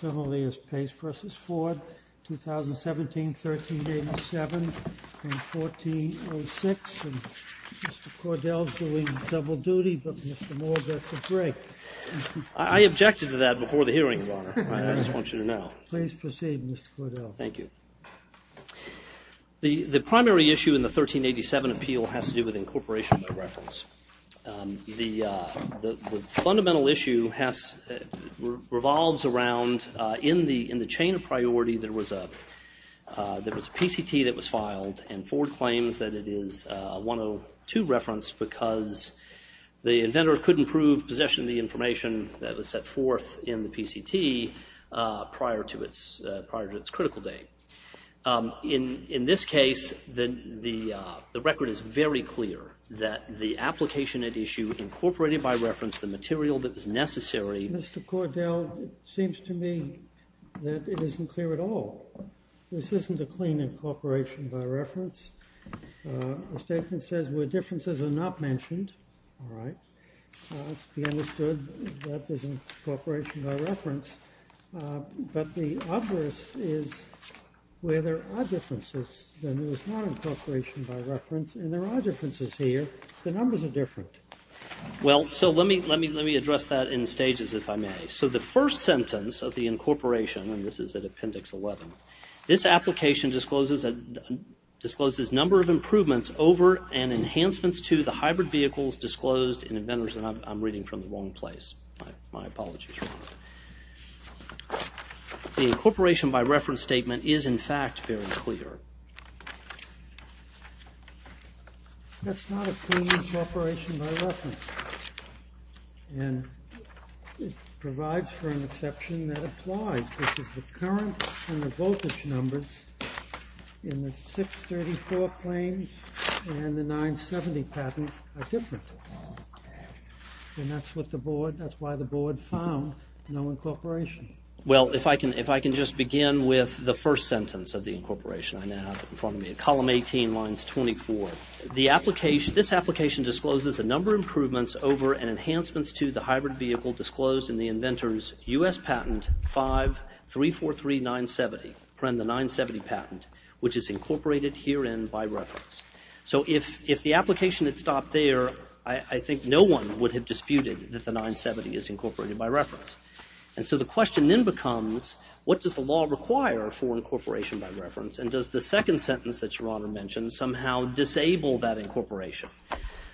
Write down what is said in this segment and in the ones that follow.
Similarly, as Pace v. Ford, 2017, 1387 and 1406, and Mr. Cordell's doing double duty, but Mr. Moore, that's a break. I objected to that before the hearing, Your Honor. I just want you to know. Please proceed, Mr. Cordell. Thank you. The primary issue in the 1387 appeal has to do with incorporation of reference. The fundamental issue revolves around, in the chain of priority, there was a PCT that was filed, and Ford claims that it is 102 reference, because the inventor couldn't prove possession of the information that was set forth in the PCT prior to its critical date. In this case, the record is very clear that the application at issue incorporated by reference the material that was necessary. Mr. Cordell, it seems to me that it isn't clear at all. This isn't a clean incorporation by reference. The statement says where differences are not mentioned. All right. Let's be understood that this is incorporation by reference, but the obverse is where there are differences. Then it was not incorporation by reference, and there are differences here. The numbers are different. Well, so let me address that in stages, if I may. So the first sentence of the incorporation, and this is at Appendix 11, this application discloses a number of improvements over and enhancements to the hybrid vehicles disclosed in inventors, and I'm reading from the wrong place. My apologies. The incorporation by reference statement is, in fact, very clear. That's not a clean incorporation by reference. And it provides for an exception that applies, because the current and the voltage numbers in the 634 claims and the 970 patent are different. And that's what the board, that's why the board found no incorporation. Well, if I can just begin with the first sentence of the incorporation I now have in front of me. Column 18, lines 24. This application discloses a number of improvements over and enhancements to the hybrid vehicle disclosed in the inventors U.S. patent 5343970, the 970 patent, which is incorporated herein by reference. So if the application had stopped there, I think no one would have disputed that the 970 is incorporated by reference. And so the question then becomes, what does the law require for incorporation by reference, and does the second sentence that Your Honor mentioned somehow disable that incorporation?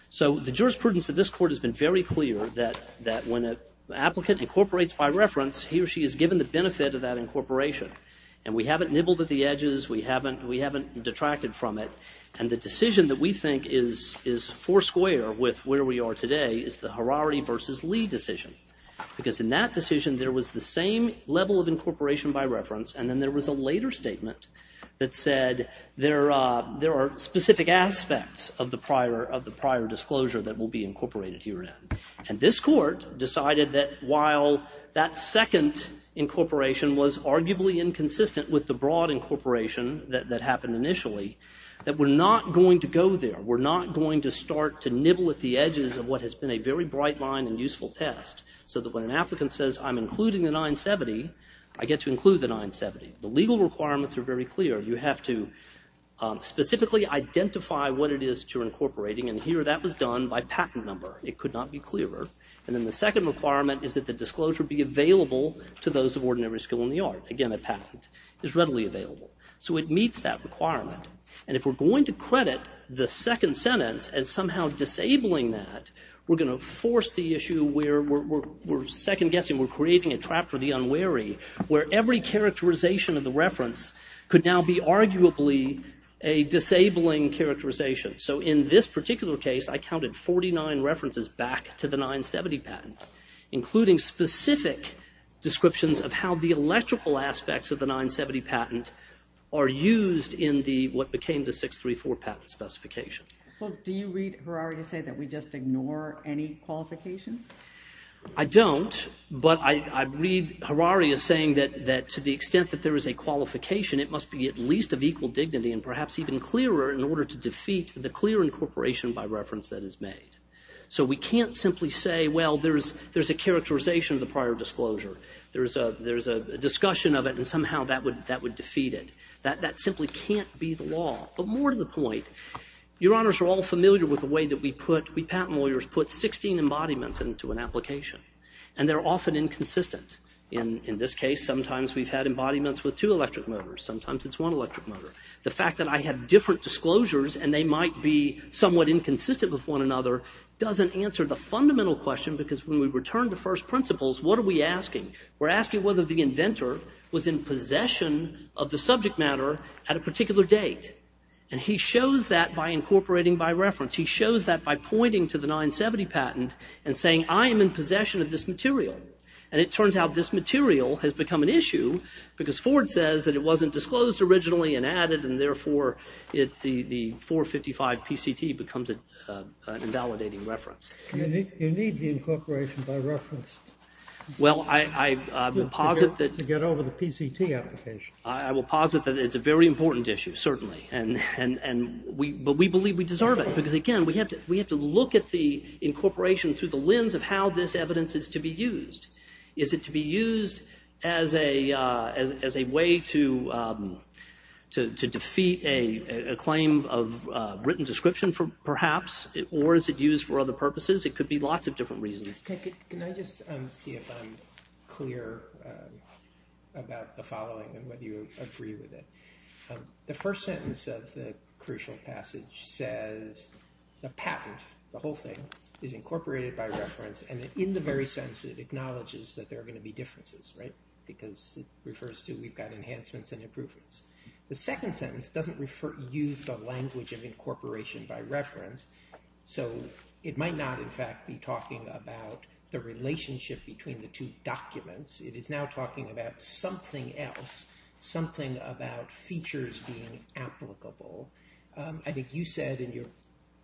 So the jurisprudence of this court has been very clear that when an applicant incorporates by reference, he or she is given the benefit of that incorporation. And we haven't nibbled at the edges. We haven't detracted from it. And the decision that we think is foursquare with where we are today is the Harari v. Lee decision. Because in that decision, there was the same level of incorporation by reference, and then there was a later statement that said there are specific aspects of the prior disclosure that will be incorporated herein. And this court decided that while that second incorporation was arguably inconsistent with the broad incorporation that happened initially, that we're not going to go there. We're not going to start to nibble at the edges of what has been a very bright line and useful test, so that when an applicant says, I'm including the 970, I get to include the 970. The legal requirements are very clear. You have to specifically identify what it is that you're incorporating. And here that was done by patent number. It could not be clearer. And then the second requirement is that the disclosure be available to those of ordinary skill in the art. Again, a patent is readily available. So it meets that requirement. And if we're going to credit the second sentence as somehow disabling that, we're going to force the issue where we're second-guessing, we're creating a trap for the unwary, where every characterization of the reference could now be arguably a disabling characterization. So in this particular case, I counted 49 references back to the 970 patent, including specific descriptions of how the electrical aspects of the 970 patent are used in what became the 634 patent specification. Well, do you read Harari to say that we just ignore any qualifications? I don't, but I read Harari as saying that to the extent that there is a qualification, it must be at least of equal dignity and perhaps even clearer in order to defeat the clear incorporation by reference that is made. So we can't simply say, well, there's a characterization of the prior disclosure. There's a discussion of it, and somehow that would defeat it. That simply can't be the law. But more to the point, Your Honors are all familiar with the way that we patent lawyers put 16 embodiments into an application, and they're often inconsistent. In this case, sometimes we've had embodiments with two electric motors. Sometimes it's one electric motor. The fact that I have different disclosures and they might be somewhat inconsistent with one another doesn't answer the fundamental question, because when we return to first principles, what are we asking? We're asking whether the inventor was in possession of the subject matter at a particular date. And he shows that by incorporating by reference. He shows that by pointing to the 970 patent and saying, I am in possession of this material. And it turns out this material has become an issue because Ford says that it wasn't disclosed originally and added, and therefore the 455 PCT becomes an invalidating reference. You need the incorporation by reference. Well, I will posit that it's a very important issue, certainly. But we believe we deserve it because, again, we have to look at the incorporation through the lens of how this evidence is to be used. Is it to be used as a way to defeat a claim of written description, perhaps? Or is it used for other purposes? It could be lots of different reasons. Can I just see if I'm clear about the following and whether you agree with it? The first sentence of the crucial passage says the patent, the whole thing, is incorporated by reference. And in the very sense, it acknowledges that there are going to be differences, right? Because it refers to we've got enhancements and improvements. The second sentence doesn't use the language of incorporation by reference. So it might not, in fact, be talking about the relationship between the two documents. It is now talking about something else, something about features being applicable. I think you said in your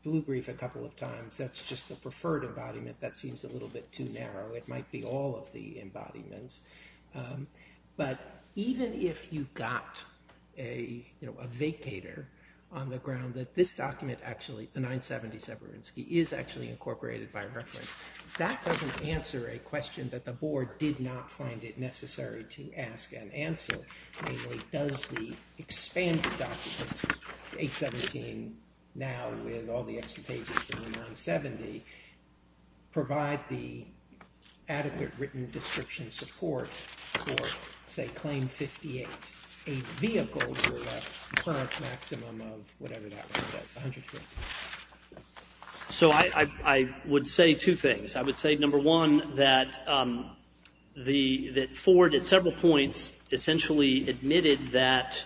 blue brief a couple of times that's just the preferred embodiment. That seems a little bit too narrow. It might be all of the embodiments. But even if you've got a vacator on the ground that this document actually, the 970 Severinsky, is actually incorporated by reference, that doesn't answer a question that the board did not find it necessary to ask and answer. Does the expanded document, 817 now with all the extra pages from the 970, provide the adequate written description support for, say, Claim 58, a vehicle for a current maximum of whatever that one says, 150? So I would say two things. I would say, number one, that Ford at several points essentially admitted that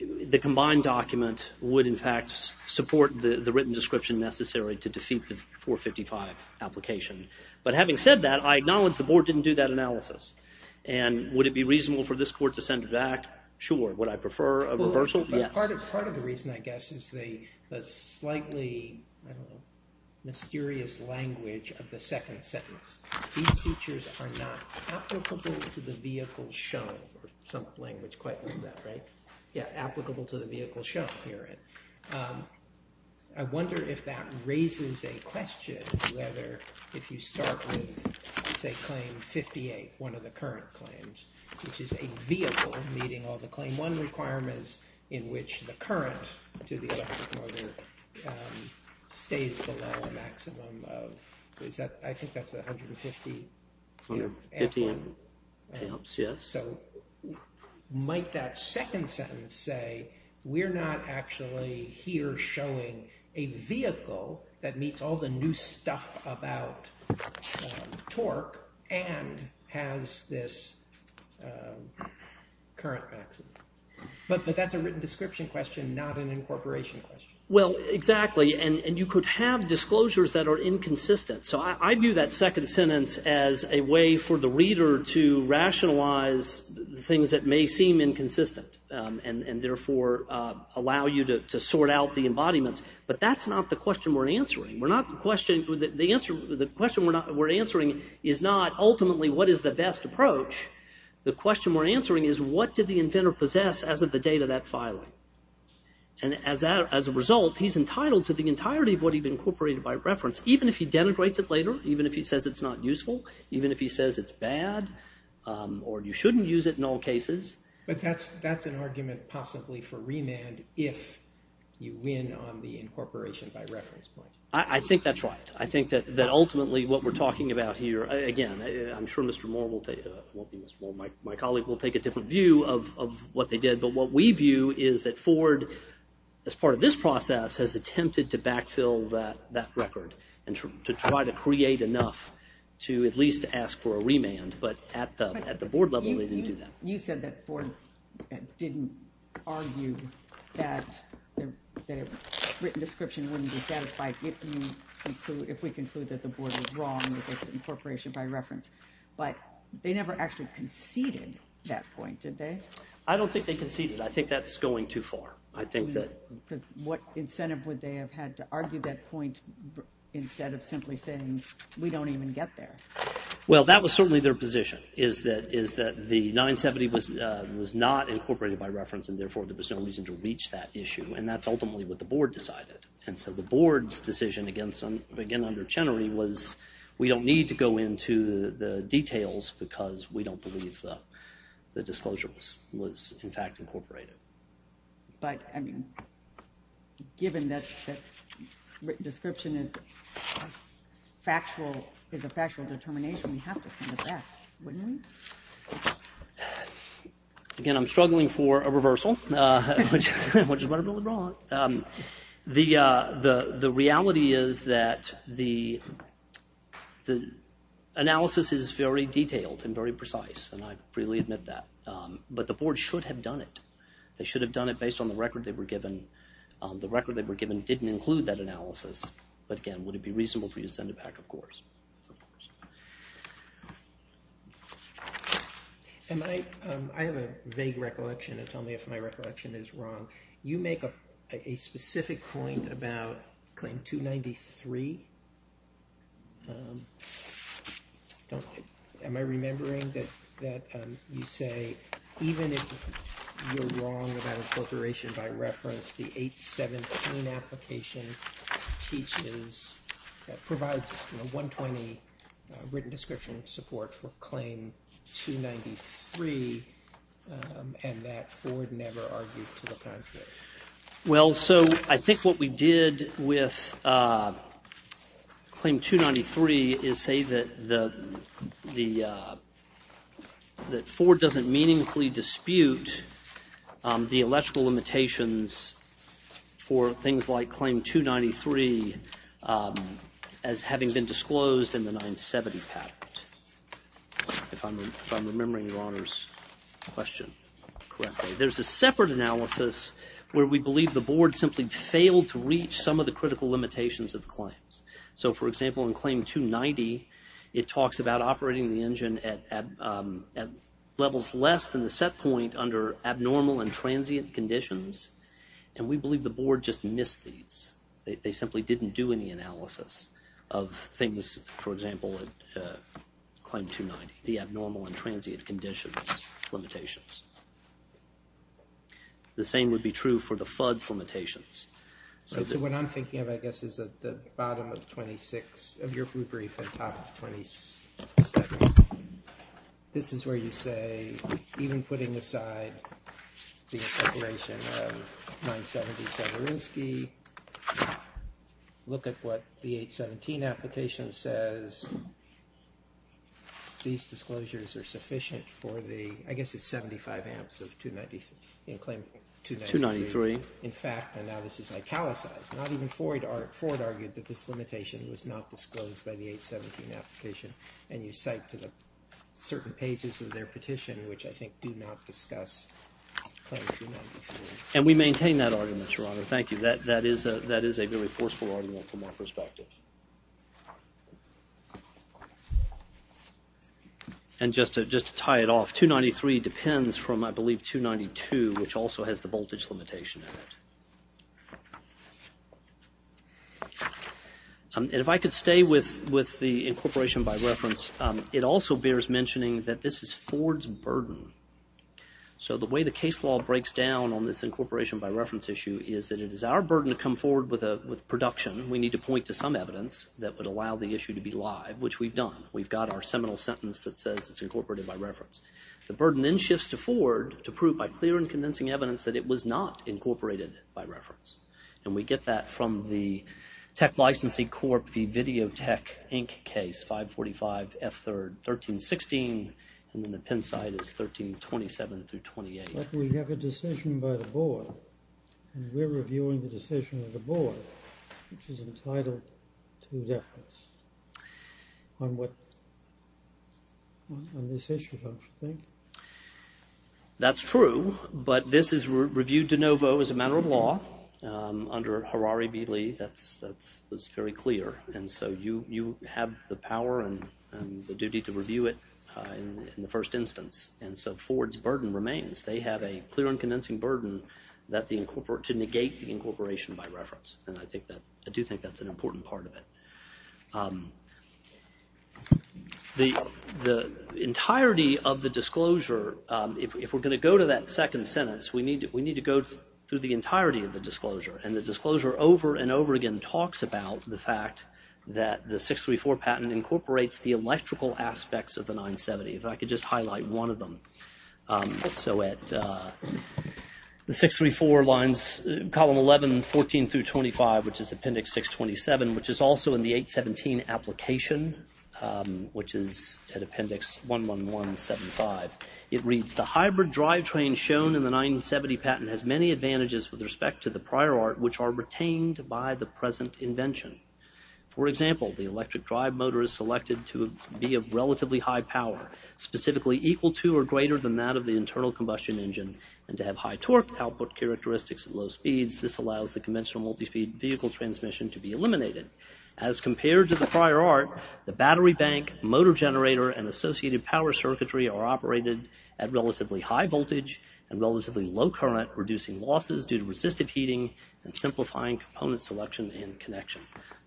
the combined document would, in fact, support the written description necessary to defeat the 455 application. But having said that, I acknowledge the board didn't do that analysis. And would it be reasonable for this court to send it back? Sure. Would I prefer a reversal? Yes. Part of the reason, I guess, is the slightly mysterious language of the second sentence. These features are not applicable to the vehicle shown, or some language quite like that, right? Yeah, applicable to the vehicle shown here. I wonder if that raises a question whether if you start with, say, Claim 58, one of the current claims, which is a vehicle meeting all the Claim 1 requirements in which the current to the electric motor stays below a maximum of, I think that's 150 amps. 150 amps, yes. So might that second sentence say we're not actually here showing a vehicle that meets all the new stuff about torque and has this current maximum? But that's a written description question, not an incorporation question. Well, exactly. And you could have disclosures that are inconsistent. So I view that second sentence as a way for the reader to rationalize things that may seem inconsistent and therefore allow you to sort out the embodiments. But that's not the question we're answering. The question we're answering is not ultimately what is the best approach. The question we're answering is what did the inventor possess as of the date of that filing? And as a result, he's entitled to the entirety of what he'd incorporated by reference, even if he denigrates it later, even if he says it's not useful, even if he says it's bad, or you shouldn't use it in all cases. But that's an argument possibly for remand if you win on the incorporation by reference point. I think that's right. I think that ultimately what we're talking about here, again, I'm sure Mr. Moore, my colleague will take a different view of what they did. But what we view is that Ford, as part of this process, has attempted to backfill that record and to try to create enough to at least ask for a remand. But at the board level, they didn't do that. You said that Ford didn't argue that a written description wouldn't be satisfied if we conclude that the board was wrong with its incorporation by reference. But they never actually conceded that point, did they? I don't think they conceded. I think that's going too far. What incentive would they have had to argue that point instead of simply saying, we don't even get there? Well, that was certainly their position, is that the 970 was not incorporated by reference, and therefore there was no reason to reach that issue. And that's ultimately what the board decided. And so the board's decision, again under Chenery, was we don't need to go into the details because we don't believe the disclosure was, in fact, incorporated. But given that the description is a factual determination, we have to send it back, wouldn't we? Again, I'm struggling for a reversal, which is what I really want. The reality is that the analysis is very detailed and very precise, and I freely admit that. But the board should have done it. They should have done it based on the record they were given. The record they were given didn't include that analysis. But again, would it be reasonable for you to send it back? Of course. I have a vague recollection. Tell me if my recollection is wrong. You make a specific point about Claim 293. Am I remembering that you say even if you're wrong about incorporation by reference, the 817 application teaches, provides 120 written description support for Claim 293, and that Ford never argued to the contrary. Well, so I think what we did with Claim 293 is say that Ford doesn't meaningfully dispute the electrical limitations for things like Claim 293 as having been disclosed in the 970 patent. If I'm remembering Your Honor's question correctly. There's a separate analysis where we believe the board simply failed to reach some of the critical limitations of the claims. So, for example, in Claim 290, it talks about operating the engine at levels less than the set point under abnormal and transient conditions. And we believe the board just missed these. They simply didn't do any analysis of things, for example, at Claim 290, the abnormal and transient conditions limitations. The same would be true for the FUD's limitations. So what I'm thinking of, I guess, is at the bottom of 26 of your brief at the top of 27. This is where you say, even putting aside the separation of 970 Severinsky, look at what the 817 application says. These disclosures are sufficient for the, I guess it's 75 amps of 293. In fact, and now this is italicized, not even Ford argued that this limitation was not disclosed by the 817 application. And you cite to the certain pages of their petition, which I think do not discuss Claim 293. And we maintain that argument, Your Honor. Thank you. That is a very forceful argument from our perspective. And just to tie it off, 293 depends from, I believe, 292, which also has the voltage limitation in it. And if I could stay with the incorporation by reference, it also bears mentioning that this is Ford's burden. So the way the case law breaks down on this incorporation by reference issue is that it is our burden to come forward with production. We need to point to some evidence that would allow the issue to be live, which we've done. We've got our seminal sentence that says it's incorporated by reference. The burden then shifts to Ford to prove by clear and convincing evidence that it was not incorporated by reference. And we get that from the Tech Licensing Corp. v. Video Tech Inc. case 545 F3rd 1316. And then the pen side is 1327 through 28. But we have a decision by the board. And we're reviewing the decision of the board, which is entitled to reference on this issue, don't you think? That's true, but this is reviewed de novo as a matter of law under Harari v. Lee. That was very clear. And so you have the power and the duty to review it in the first instance. And so Ford's burden remains. They have a clear and convincing burden to negate the incorporation by reference. And I do think that's an important part of it. The entirety of the disclosure, if we're going to go to that second sentence, we need to go through the entirety of the disclosure. And the disclosure over and over again talks about the fact that the 634 patent incorporates the electrical aspects of the 970. If I could just highlight one of them. So at the 634 lines, column 11, 14 through 25, which is appendix 627, which is also in the 817 application, which is at appendix 11175, it reads, the hybrid drivetrain shown in the 970 patent has many advantages with respect to the prior art, which are retained by the present invention. For example, the electric drive motor is selected to be of relatively high power, specifically equal to or greater than that of the internal combustion engine. And to have high torque output characteristics at low speeds, this allows the conventional multi-speed vehicle transmission to be eliminated. As compared to the prior art, the battery bank, motor generator, and associated power circuitry are operated at relatively high voltage and relatively low current, reducing losses due to resistive heating and simplifying component selection and connection.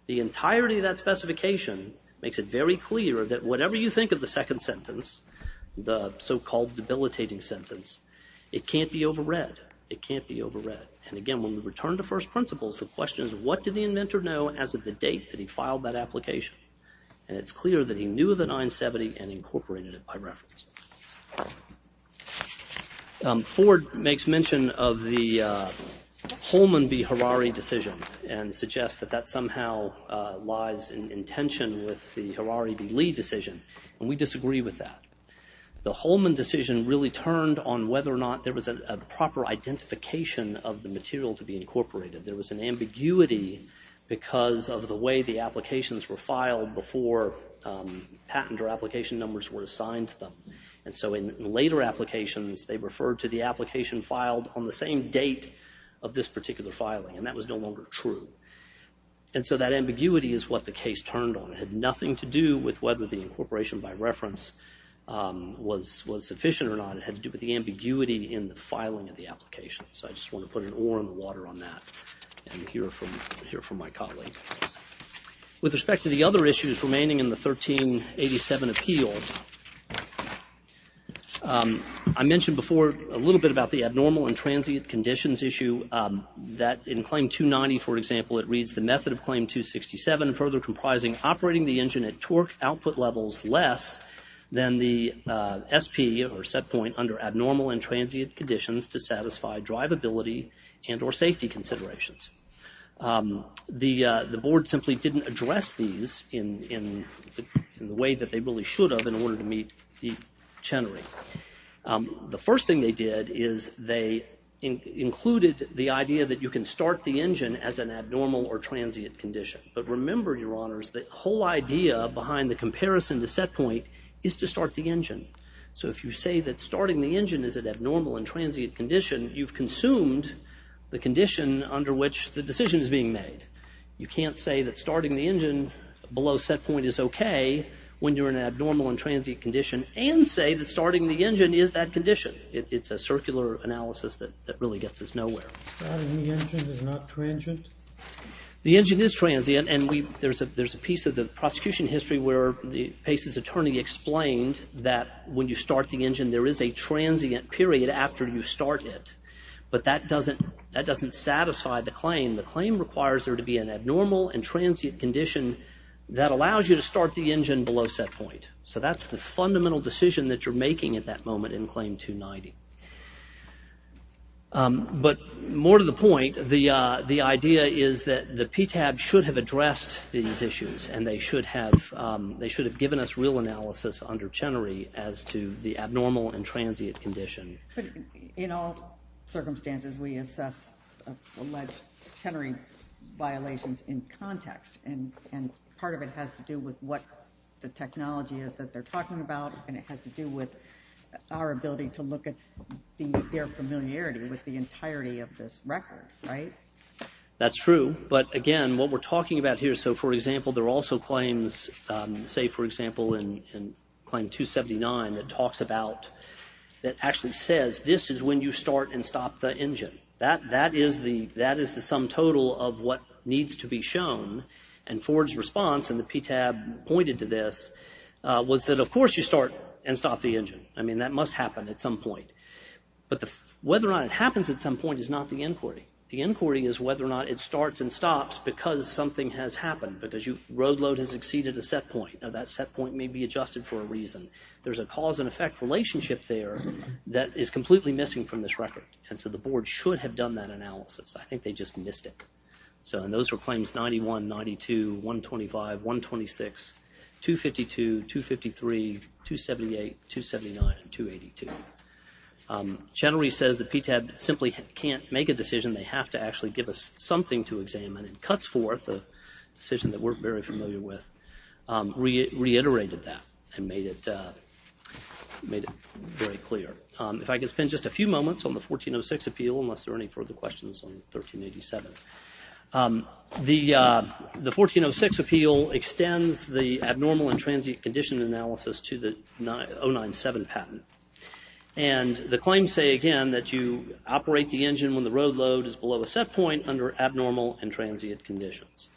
The entirety of that specification makes it very clear that whatever you think of the second sentence, the so-called debilitating sentence, it can't be overread. It can't be overread. And again, when we return to first principles, the question is, what did the inventor know as of the date that he filed that application? And it's clear that he knew of the 970 and incorporated it by reference. Ford makes mention of the Holman v. Harari decision and suggests that that somehow lies in tension with the Harari v. Lee decision, and we disagree with that. The Holman decision really turned on whether or not there was a proper identification of the material to be incorporated. There was an ambiguity because of the way the applications were filed before patent or application numbers were assigned to them. And so in later applications, they referred to the application filed on the same date of this particular filing, and that was no longer true. And so that ambiguity is what the case turned on. It had nothing to do with whether the incorporation by reference was sufficient or not. It had to do with the ambiguity in the filing of the application. So I just want to put an oar in the water on that and hear from my colleague. With respect to the other issues remaining in the 1387 appeal, I mentioned before a little bit about the abnormal and transient conditions issue, that in Claim 290, for example, it reads, The method of Claim 267 further comprising operating the engine at torque output levels less than the SP or set point under abnormal and transient conditions to satisfy drivability and or safety considerations. The board simply didn't address these in the way that they really should have in order to meet the Chenery. The first thing they did is they included the idea that you can start the engine as an abnormal or transient condition. But remember, Your Honors, the whole idea behind the comparison to set point is to start the engine. So if you say that starting the engine is an abnormal and transient condition, you've consumed the condition under which the decision is being made. You can't say that starting the engine below set point is OK when you're in an abnormal and transient condition and say that starting the engine is that condition. It's a circular analysis that really gets us nowhere. Starting the engine is not transient? The engine is transient. And there's a piece of the prosecution history where Pace's attorney explained that when you start the engine, there is a transient period after you start it. But that doesn't satisfy the claim. The claim requires there to be an abnormal and transient condition that allows you to start the engine below set point. So that's the fundamental decision that you're making at that moment in Claim 290. But more to the point, the idea is that the PTAB should have addressed these issues and they should have given us real analysis under Chenery as to the abnormal and transient condition. In all circumstances, we assess alleged Chenery violations in context, and part of it has to do with what the technology is that they're talking about, and it has to do with our ability to look at their familiarity with the entirety of this record, right? That's true. But, again, what we're talking about here, so, for example, there are also claims, say, for example, in Claim 279, that talks about, that actually says this is when you start and stop the engine. That is the sum total of what needs to be shown. And Ford's response, and the PTAB pointed to this, was that, of course, you start and stop the engine. I mean, that must happen at some point. But whether or not it happens at some point is not the inquiry. The inquiry is whether or not it starts and stops because something has happened, because road load has exceeded a set point. Now, that set point may be adjusted for a reason. There's a cause and effect relationship there that is completely missing from this record, and so the board should have done that analysis. I think they just missed it. So, and those were claims 91, 92, 125, 126, 252, 253, 278, 279, and 282. Chattery says the PTAB simply can't make a decision. They have to actually give us something to examine, and Cutsforth, a decision that we're very familiar with, reiterated that and made it very clear. If I could spend just a few moments on the 1406 appeal, unless there are any further questions on 1387. The 1406 appeal extends the abnormal and transient condition analysis to the 097 patent. And the claims say, again, that you operate the engine when the road load is below a set point under abnormal and transient conditions.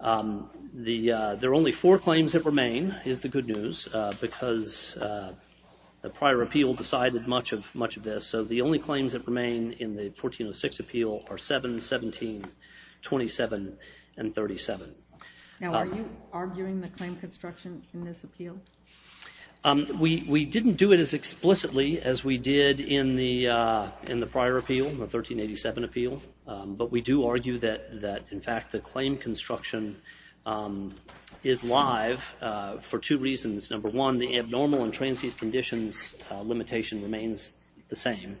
There are only four claims that remain, is the good news, because the prior appeal decided much of this, so the only claims that remain in the 1406 appeal are 7, 17, 27, and 37. We didn't do it as explicitly as we did in the prior appeal, the 1387 appeal, but we do argue that, in fact, the claim construction is live for two reasons. Number one, the abnormal and transient conditions limitation remains the same.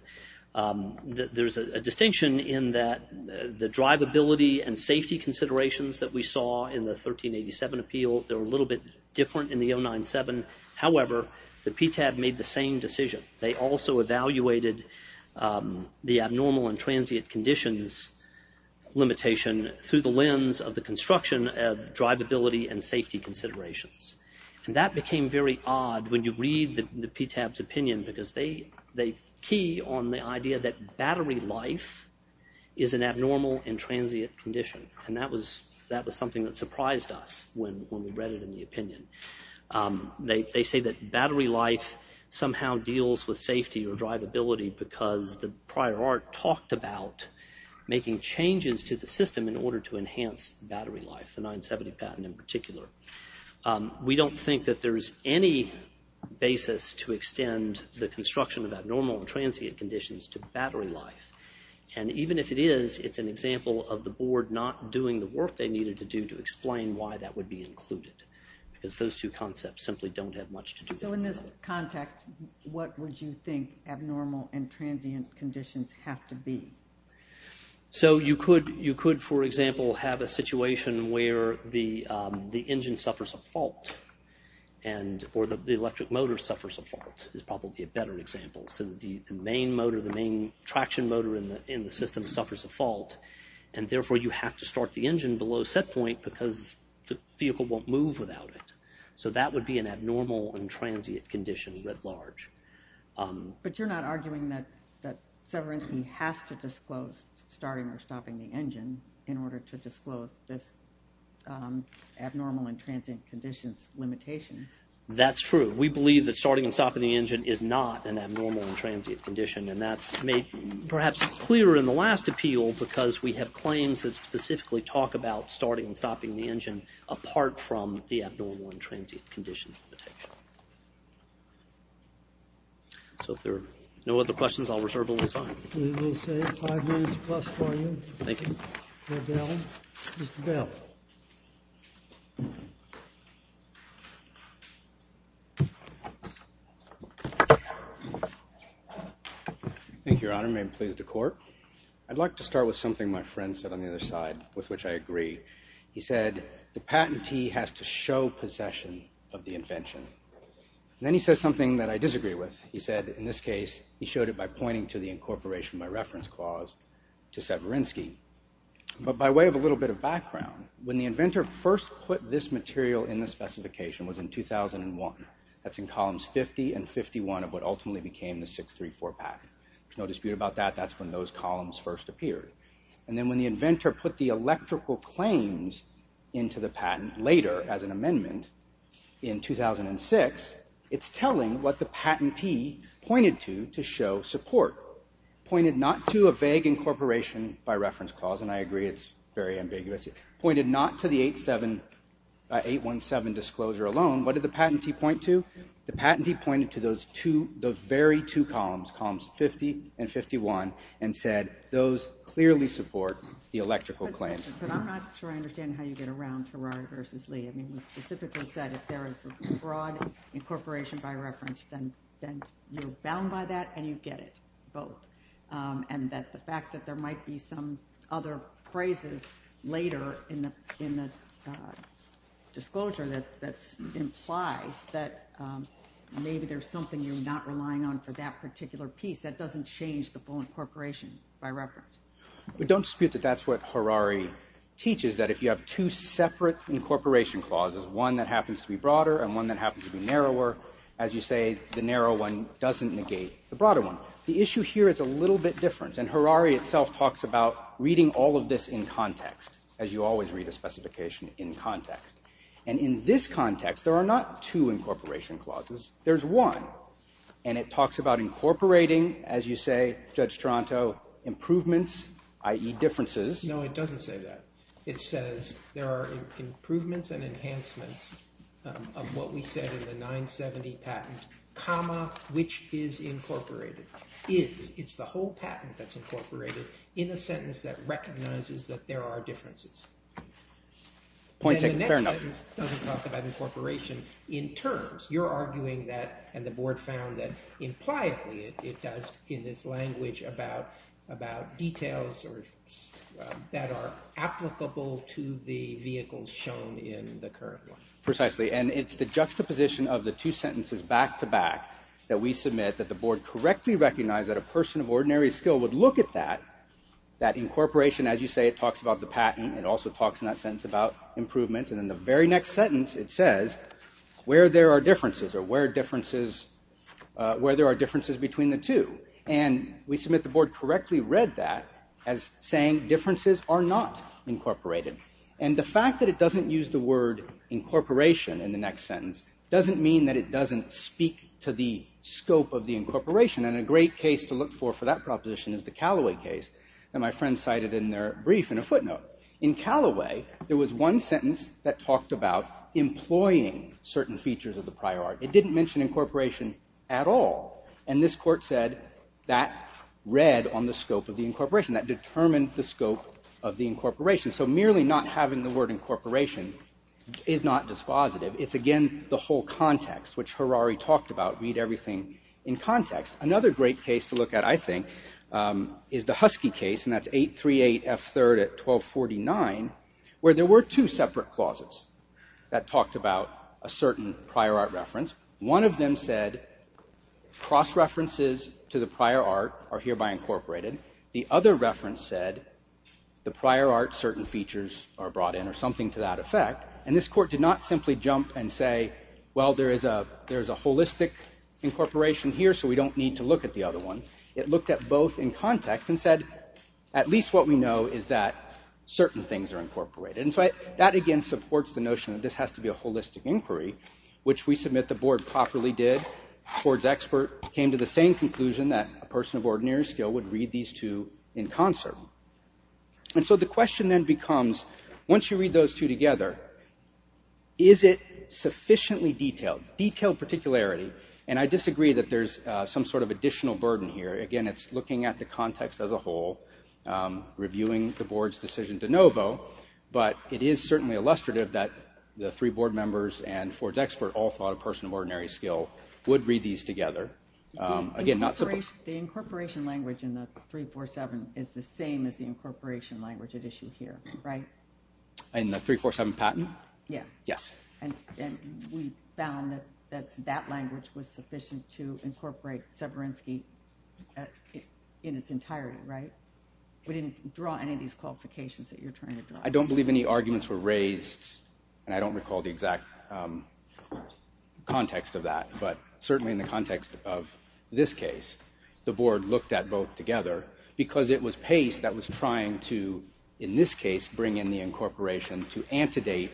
There's a distinction in that the drivability and safety considerations that we saw in the 1387 appeal, they're a little bit different in the 097. However, the PTAB made the same decision. They also evaluated the abnormal and transient conditions limitation through the lens of the construction of drivability and safety considerations. And that became very odd when you read the PTAB's opinion, because they key on the idea that battery life is an abnormal and transient condition. And that was something that surprised us when we read it in the opinion. They say that battery life somehow deals with safety or drivability because the prior art talked about making changes to the system in order to enhance battery life, the 970 patent in particular. We don't think that there's any basis to extend the construction of abnormal and transient conditions to battery life. And even if it is, it's an example of the board not doing the work they needed to do to explain why that would be included, because those two concepts simply don't have much to do with it. So in this context, what would you think abnormal and transient conditions have to be? So you could, for example, have a situation where the engine suffers a fault or the electric motor suffers a fault is probably a better example. So the main motor, the main traction motor in the system suffers a fault and therefore you have to start the engine below set point because the vehicle won't move without it. So that would be an abnormal and transient condition writ large. But you're not arguing that Severinsky has to disclose starting or stopping the engine in order to disclose this abnormal and transient conditions limitation. That's true. We believe that starting and stopping the engine is not an abnormal and transient condition and that's made perhaps clearer in the last appeal because we have claims that specifically talk about starting and stopping the engine apart from the abnormal and transient conditions limitation. So if there are no other questions, I'll reserve a little time. We'll save five minutes plus for you. Thank you. Mr. Bell. Thank you, Your Honor. May it please the court. I'd like to start with something my friend said on the other side with which I agree. He said the patentee has to show possession of the invention. Then he said something that I disagree with. He said in this case he showed it by pointing to the incorporation by reference clause to Severinsky. But by way of a little bit of background, when the inventor first put this material in the specification was in 2001. That's in columns 50 and 51 of what ultimately became the 634 patent. There's no dispute about that. That's when those columns first appeared. And then when the inventor put the electrical claims into the patent later as an amendment in 2006, it's telling what the patentee pointed to to show support. Pointed not to a vague incorporation by reference clause, and I agree it's very ambiguous. Pointed not to the 817 disclosure alone. What did the patentee point to? The patentee pointed to those two, those very two columns, columns 50 and 51, and said those clearly support the electrical claims. But I'm not sure I understand how you get around Terraria versus Lee. It was specifically said if there is a broad incorporation by reference, then you're bound by that and you get it both. And the fact that there might be some other phrases later in the disclosure that implies that maybe there's something you're not relying on for that particular piece, that doesn't change the full incorporation by reference. We don't dispute that that's what Harari teaches, that if you have two separate incorporation clauses, one that happens to be broader and one that happens to be narrower, as you say, the narrow one doesn't negate the broader one. The issue here is a little bit different, and Harari itself talks about reading all of this in context, as you always read a specification in context. And in this context, there are not two incorporation clauses, there's one. And it talks about incorporating, as you say, Judge Toronto, improvements, i.e. differences. No, it doesn't say that. It says there are improvements and enhancements of what we said in the 970 patent, comma, which is incorporated. It's the whole patent that's incorporated in a sentence that recognizes that there are differences. Fair enough. And the next sentence doesn't talk about incorporation in terms. You're arguing that, and the Board found that, impliably it does in its language about details that are applicable to the vehicles shown in the current one. Precisely, and it's the juxtaposition of the two sentences back-to-back that we submit that the Board correctly recognized that a person of ordinary skill would look at that, that incorporation, as you say, it talks about the patent. It also talks in that sentence about improvements. And in the very next sentence, it says where there are differences, or where there are differences between the two. And we submit the Board correctly read that as saying differences are not incorporated. And the fact that it doesn't use the word incorporation in the next sentence doesn't mean that it doesn't speak to the scope of the incorporation. And a great case to look for for that proposition is the Callaway case that my friend cited in their brief in a footnote. In Callaway, there was one sentence that talked about employing certain features of the prior art. It didn't mention incorporation at all. And this court said that read on the scope of the incorporation, that determined the scope of the incorporation. So merely not having the word incorporation is not dispositive. It's, again, the whole context, which Harari talked about, read everything in context. Another great case to look at, I think, is the Husky case, and that's 838F3 at 1249, where there were two separate clauses that talked about a certain prior art reference. One of them said cross-references to the prior art are hereby incorporated. The other reference said the prior art certain features are brought in, or something to that effect. And this court did not simply jump and say, well, there is a holistic incorporation here, so we don't need to look at the other one. It looked at both in context and said, at least what we know is that certain things are incorporated. And so that, again, supports the notion that this has to be a holistic inquiry, which we submit the board properly did. The board's expert came to the same conclusion that a person of ordinary skill would read these two in concert. And so the question then becomes, once you read those two together, is it sufficiently detailed, detailed particularity? And I disagree that there's some sort of additional burden here. Again, it's looking at the context as a whole, reviewing the board's decision de novo, but it is certainly illustrative that the three board members and Ford's expert all thought a person of ordinary skill would read these together. Again, not simply. The incorporation language in the 347 is the same as the incorporation language at issue here, right? In the 347 patent? Yes. And we found that that language was sufficient to incorporate Severinsky in its entirety, right? We didn't draw any of these qualifications that you're trying to draw. I don't believe any arguments were raised, and I don't recall the exact context of that. But certainly in the context of this case, the board looked at both together because it was Pace that was trying to, in this case, bring in the incorporation to antedate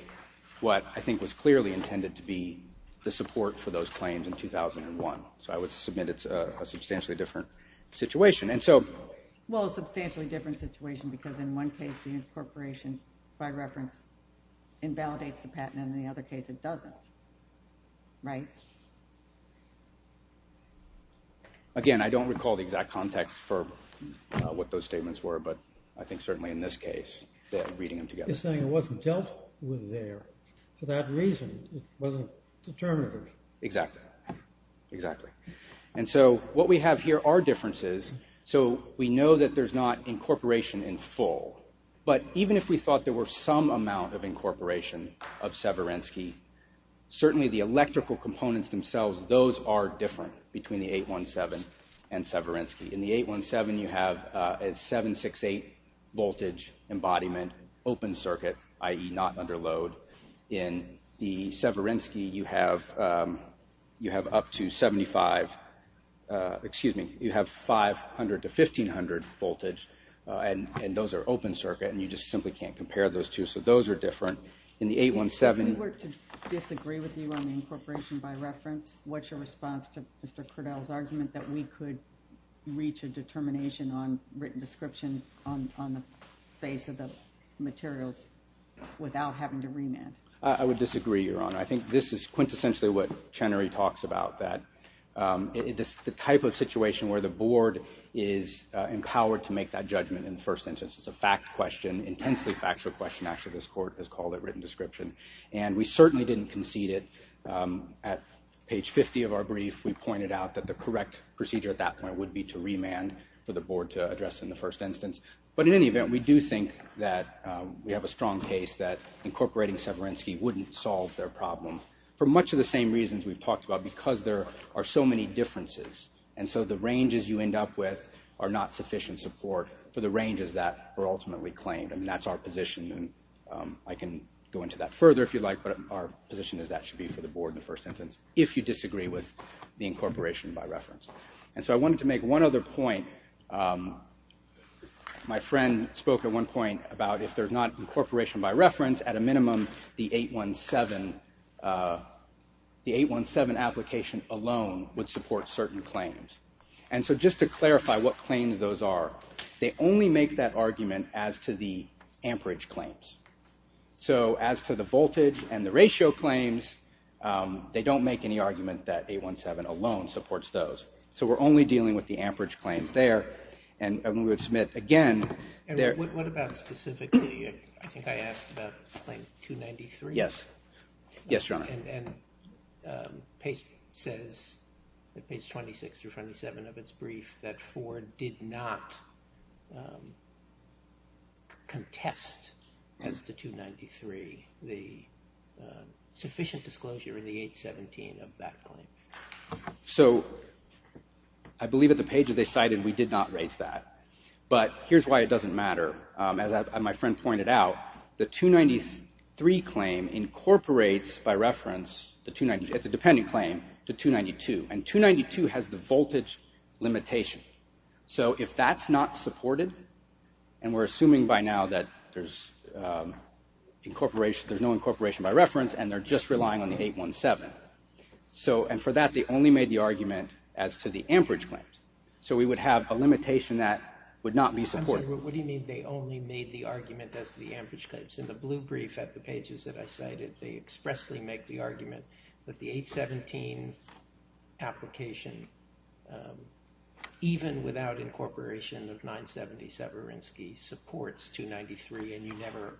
what I think was clearly intended to be the support for those claims in 2001. So I would submit it's a substantially different situation. Well, a substantially different situation because in one case the incorporation, by reference, invalidates the patent and in the other case it doesn't, right? Again, I don't recall the exact context for what those statements were, but I think certainly in this case, reading them together. You're saying it wasn't dealt with there for that reason. It wasn't determined. Exactly. Exactly. And so what we have here are differences. So we know that there's not incorporation in full, but even if we thought there were some amount of incorporation of Severinsky, certainly the electrical components themselves, those are different between the 817 and Severinsky. In the 817 you have a 768 voltage embodiment open circuit, i.e. not under load. In the Severinsky you have up to 75, excuse me, you have 500 to 1500 voltage, and those are open circuit and you just simply can't compare those two, so those are different. If we were to disagree with you on the incorporation by reference, what's your response to Mr. Kurdel's argument that we could reach a determination on written description on the face of the materials without having to remand? I would disagree, Your Honor. I think this is quintessentially what Chenery talks about, that the type of situation where the board is empowered to make that judgment in the first instance, it's a fact question, intensely factual question, actually this court has called it written description, and we certainly didn't concede it. At page 50 of our brief we pointed out that the correct procedure at that point would be to remand for the board to address in the first instance, but in any event we do think that we have a strong case that incorporating Severinsky wouldn't solve their problem for much of the same reasons we've talked about because there are so many differences, and so the ranges you end up with are not sufficient support for the ranges that were ultimately claimed, and that's our position, and I can go into that further if you like, but our position is that should be for the board in the first instance, if you disagree with the incorporation by reference. And so I wanted to make one other point. My friend spoke at one point about if there's not incorporation by reference, at a minimum the 817 application alone would support certain claims. And so just to clarify what claims those are, they only make that argument as to the amperage claims. So as to the voltage and the ratio claims, they don't make any argument that 817 alone supports those. So we're only dealing with the amperage claims there, and we would submit again. And what about specifically, I think I asked about claim 293. Yes. Yes, Your Honor. And Pace says at page 26 through 27 of its brief that Ford did not contest as to 293, the sufficient disclosure in the 817 of that claim. So I believe at the pages they cited we did not raise that. But here's why it doesn't matter. As my friend pointed out, the 293 claim incorporates by reference, it's a dependent claim, to 292. And 292 has the voltage limitation. So if that's not supported, and we're assuming by now that there's no incorporation by reference and they're just relying on the 817. And for that they only made the argument as to the amperage claims. So we would have a limitation that would not be supported. What do you mean they only made the argument as to the amperage claims? In the blue brief at the pages that I cited, they expressly make the argument that the 817 application, even without incorporation of 970, Severinsky supports 293, and you never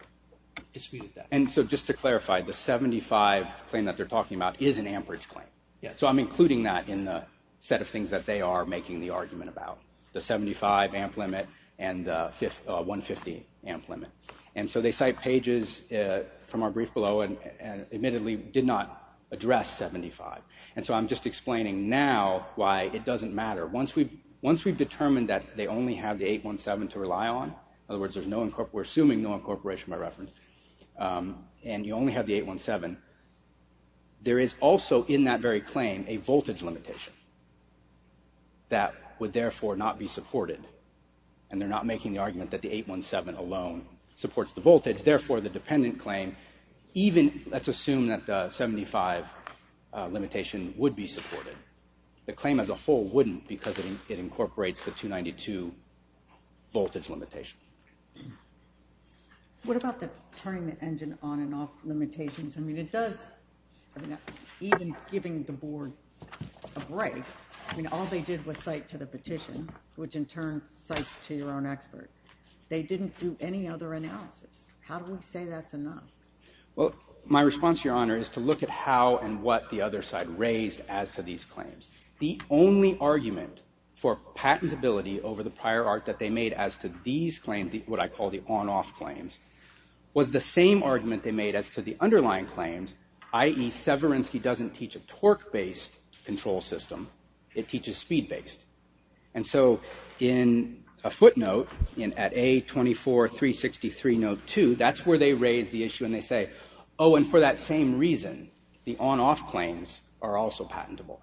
disputed that. And so just to clarify, the 75 claim that they're talking about is an amperage claim. Yes. So I'm including that in the set of things that they are making the argument about. The 75 amp limit and the 150 amp limit. And so they cite pages from our brief below and admittedly did not address 75. And so I'm just explaining now why it doesn't matter. Once we've determined that they only have the 817 to rely on, in other words, we're assuming no incorporation by reference, and you only have the 817, there is also in that very claim a voltage limitation that would therefore not be supported. And they're not making the argument that the 817 alone supports the voltage. Therefore, the dependent claim, even let's assume that 75 limitation would be supported. The claim as a whole wouldn't because it incorporates the 292 voltage limitation. What about the turning the engine on and off limitations? I mean, it does, even giving the board a break, I mean, all they did was cite to the petition, which in turn cites to your own expert. They didn't do any other analysis. How do we say that's enough? Well, my response, Your Honor, is to look at how and what the other side raised as to these claims. The only argument for patentability over the prior art that they made as to these claims, what I call the on-off claims, was the same argument they made as to the underlying claims, i.e. Severinsky doesn't teach a torque-based control system. It teaches speed-based. And so in a footnote at A24363 Note 2, that's where they raise the issue and they say, oh, and for that same reason, the on-off claims are also patentable.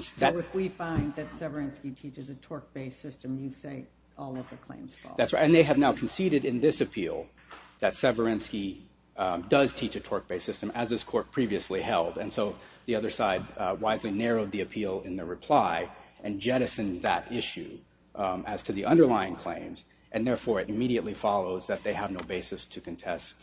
So if we find that Severinsky teaches a torque-based system, you say all of the claims fall. That's right, and they have now conceded in this appeal that Severinsky does teach a torque-based system, as this court previously held, and so the other side wisely narrowed the appeal in the reply and jettisoned that issue as to the underlying claims, and therefore it immediately follows that they have no basis to contest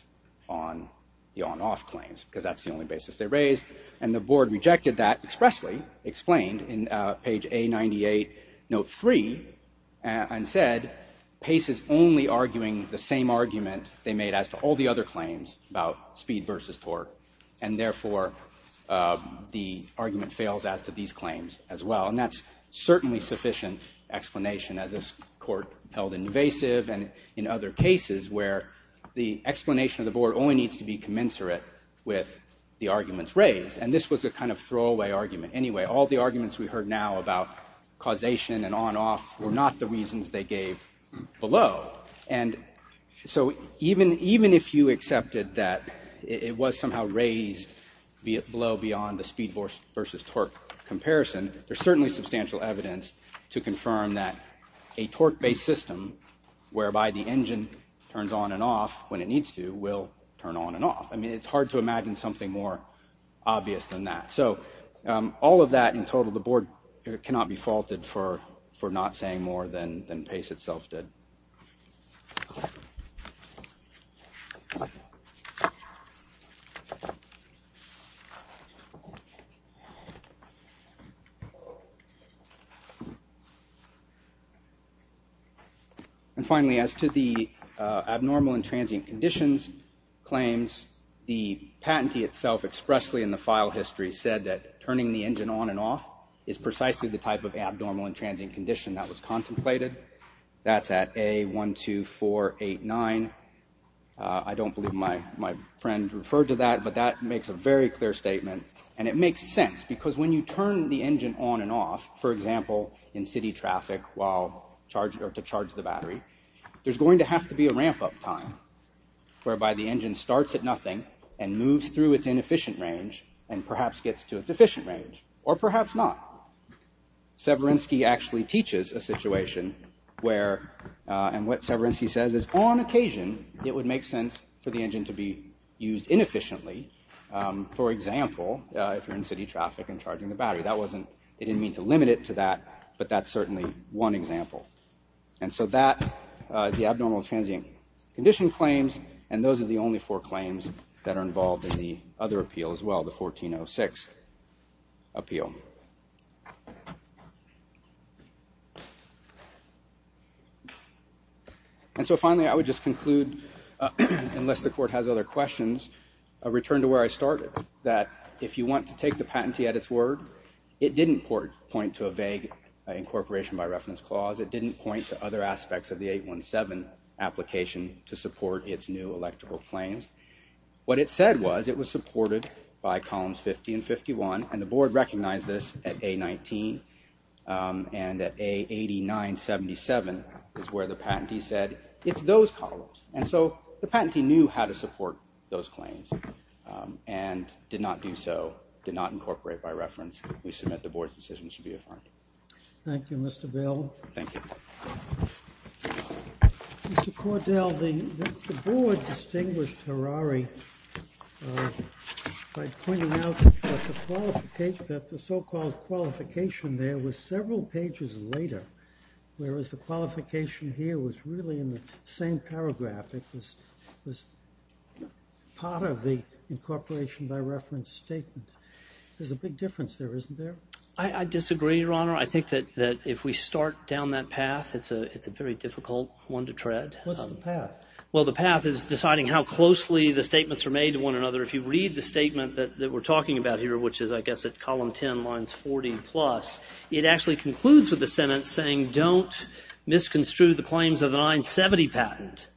on the on-off claims, because that's the only basis they raised, and the board rejected that expressly, explained in page A98 Note 3, and said Pace is only arguing the same argument they made as to all the other claims about speed versus torque, and therefore the argument fails as to these claims as well. And that's certainly sufficient explanation, as this court held invasive and in other cases where the explanation of the board only needs to be commensurate with the arguments raised, and this was a kind of throwaway argument. Anyway, all the arguments we heard now about causation and on-off were not the reasons they gave below, and so even if you accepted that it was somehow raised below beyond the speed versus torque comparison, there's certainly substantial evidence to confirm that a torque-based system, whereby the engine turns on and off when it needs to, will turn on and off. I mean, it's hard to imagine something more obvious than that. So all of that in total, the board cannot be faulted for not saying more than Pace itself did. Finally, as to the abnormal and transient conditions claims, the patentee itself expressly in the file history said that turning the engine on and off is precisely the type of abnormal and transient condition that was contemplated. That's at A12489. I don't believe my friend referred to that, but that makes a very clear statement, and it makes sense, because when you turn the engine on and off, for example, in city traffic to charge the battery, there's going to have to be a ramp-up time, whereby the engine starts at nothing and moves through its inefficient range and perhaps gets to its efficient range, or perhaps not. Severinsky actually teaches a situation where, and what Severinsky says is, on occasion, it would make sense for the engine to be used inefficiently. For example, if you're in city traffic and charging the battery, it didn't mean to limit it to that, but that's certainly one example. And so that is the abnormal and transient condition claims, and those are the only four claims that are involved in the other appeal as well, the 1406 appeal. And so finally, I would just conclude, unless the court has other questions, a return to where I started, that if you want to take the patentee at its word, it didn't point to a vague incorporation by reference clause. It didn't point to other aspects of the 817 application to support its new electrical claims. What it said was it was supported by columns 50 and 51, and the board recognized this at A19, and at A8977 is where the patentee said, it's those columns. And so the patentee knew how to support those claims and did not do so, did not incorporate by reference. We submit the board's decision should be affirmed. Thank you, Mr. Bell. Thank you. Mr. Cordell, the board distinguished Harari by pointing out that the so-called qualification there was several pages later, whereas the qualification here was really in the same paragraph. It was part of the incorporation by reference statement. There's a big difference there, isn't there? I disagree, Your Honor. I think that if we start down that path, it's a very difficult one to tread. What's the path? Well, the path is deciding how closely the statements are made to one another. If you read the statement that we're talking about here, which is, I guess, at column 10, lines 40 plus, it actually concludes with a sentence saying, don't misconstrue the claims of the 970 patent.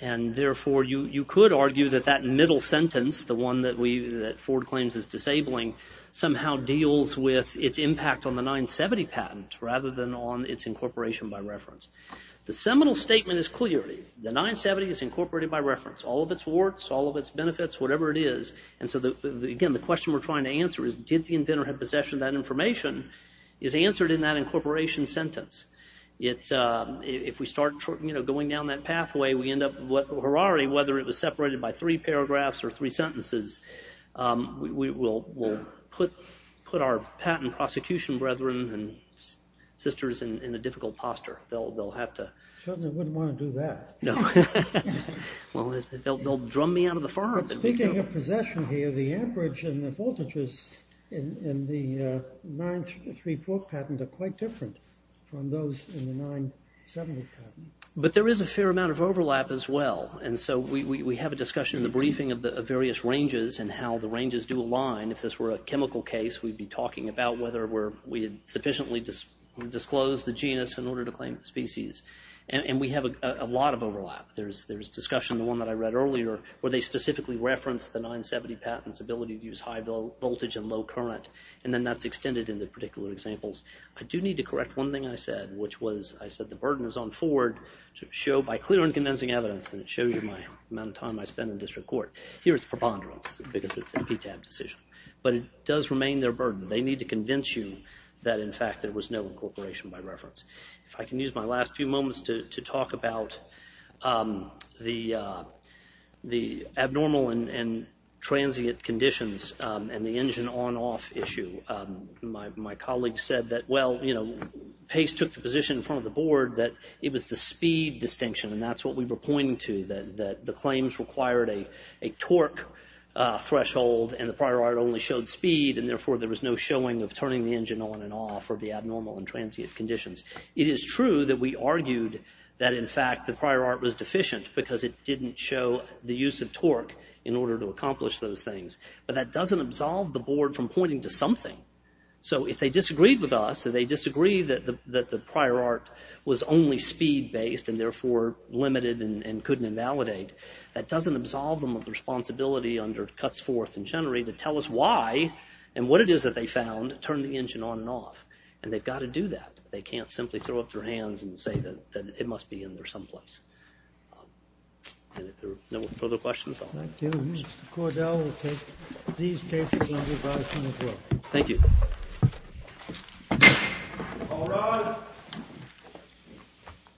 And therefore, you could argue that that middle sentence, the one that Ford claims is disabling, somehow deals with its impact on the 970 patent rather than on its incorporation by reference. The seminal statement is clear. The 970 is incorporated by reference. All of its warts, all of its benefits, whatever it is. And so, again, the question we're trying to answer is, did the inventor have possession of that information, is answered in that incorporation sentence. If we start going down that pathway, we end up, hurray, whether it was separated by three paragraphs or three sentences, we will put our patent prosecution brethren and sisters in a difficult posture. Children wouldn't want to do that. They'll drum me out of the farm. But speaking of possession here, the amperage and the voltages in the 934 patent are quite different from those in the 970 patent. But there is a fair amount of overlap as well. And so we have a discussion in the briefing of various ranges and how the ranges do align. If this were a chemical case, we'd be talking about whether we sufficiently disclosed the genus in order to claim the species. And we have a lot of overlap. There's discussion, the one that I read earlier, where they specifically referenced the 970 patent's ability to use high voltage and low current, and then that's extended into particular examples. I do need to correct one thing I said, which was I said the burden is on Ford to show by clear and convincing evidence, and it shows you my amount of time I spend in district court. Here it's preponderance because it's a PTAB decision. But it does remain their burden. They need to convince you that, in fact, there was no incorporation by reference. If I can use my last few moments to talk about the abnormal and transient conditions and the engine on-off issue. My colleague said that, well, you know, Pace took the position in front of the board that it was the speed distinction, and that's what we were pointing to, that the claims required a torque threshold, and the prior art only showed speed, and therefore there was no showing of turning the engine on and off or the abnormal and transient conditions. It is true that we argued that, in fact, the prior art was deficient because it didn't show the use of torque in order to accomplish those things. But that doesn't absolve the board from pointing to something. So if they disagreed with us, if they disagreed that the prior art was only speed-based and therefore limited and couldn't invalidate, that doesn't absolve them of the responsibility under cuts forth and generally to tell us why and what it is that they found to turn the engine on and off. And they've got to do that. They can't simply throw up their hands and say that it must be in there someplace. And if there are no further questions, I'll... Thank you. Mr. Cordell will take these cases under advisement as well. Thank you. All rise.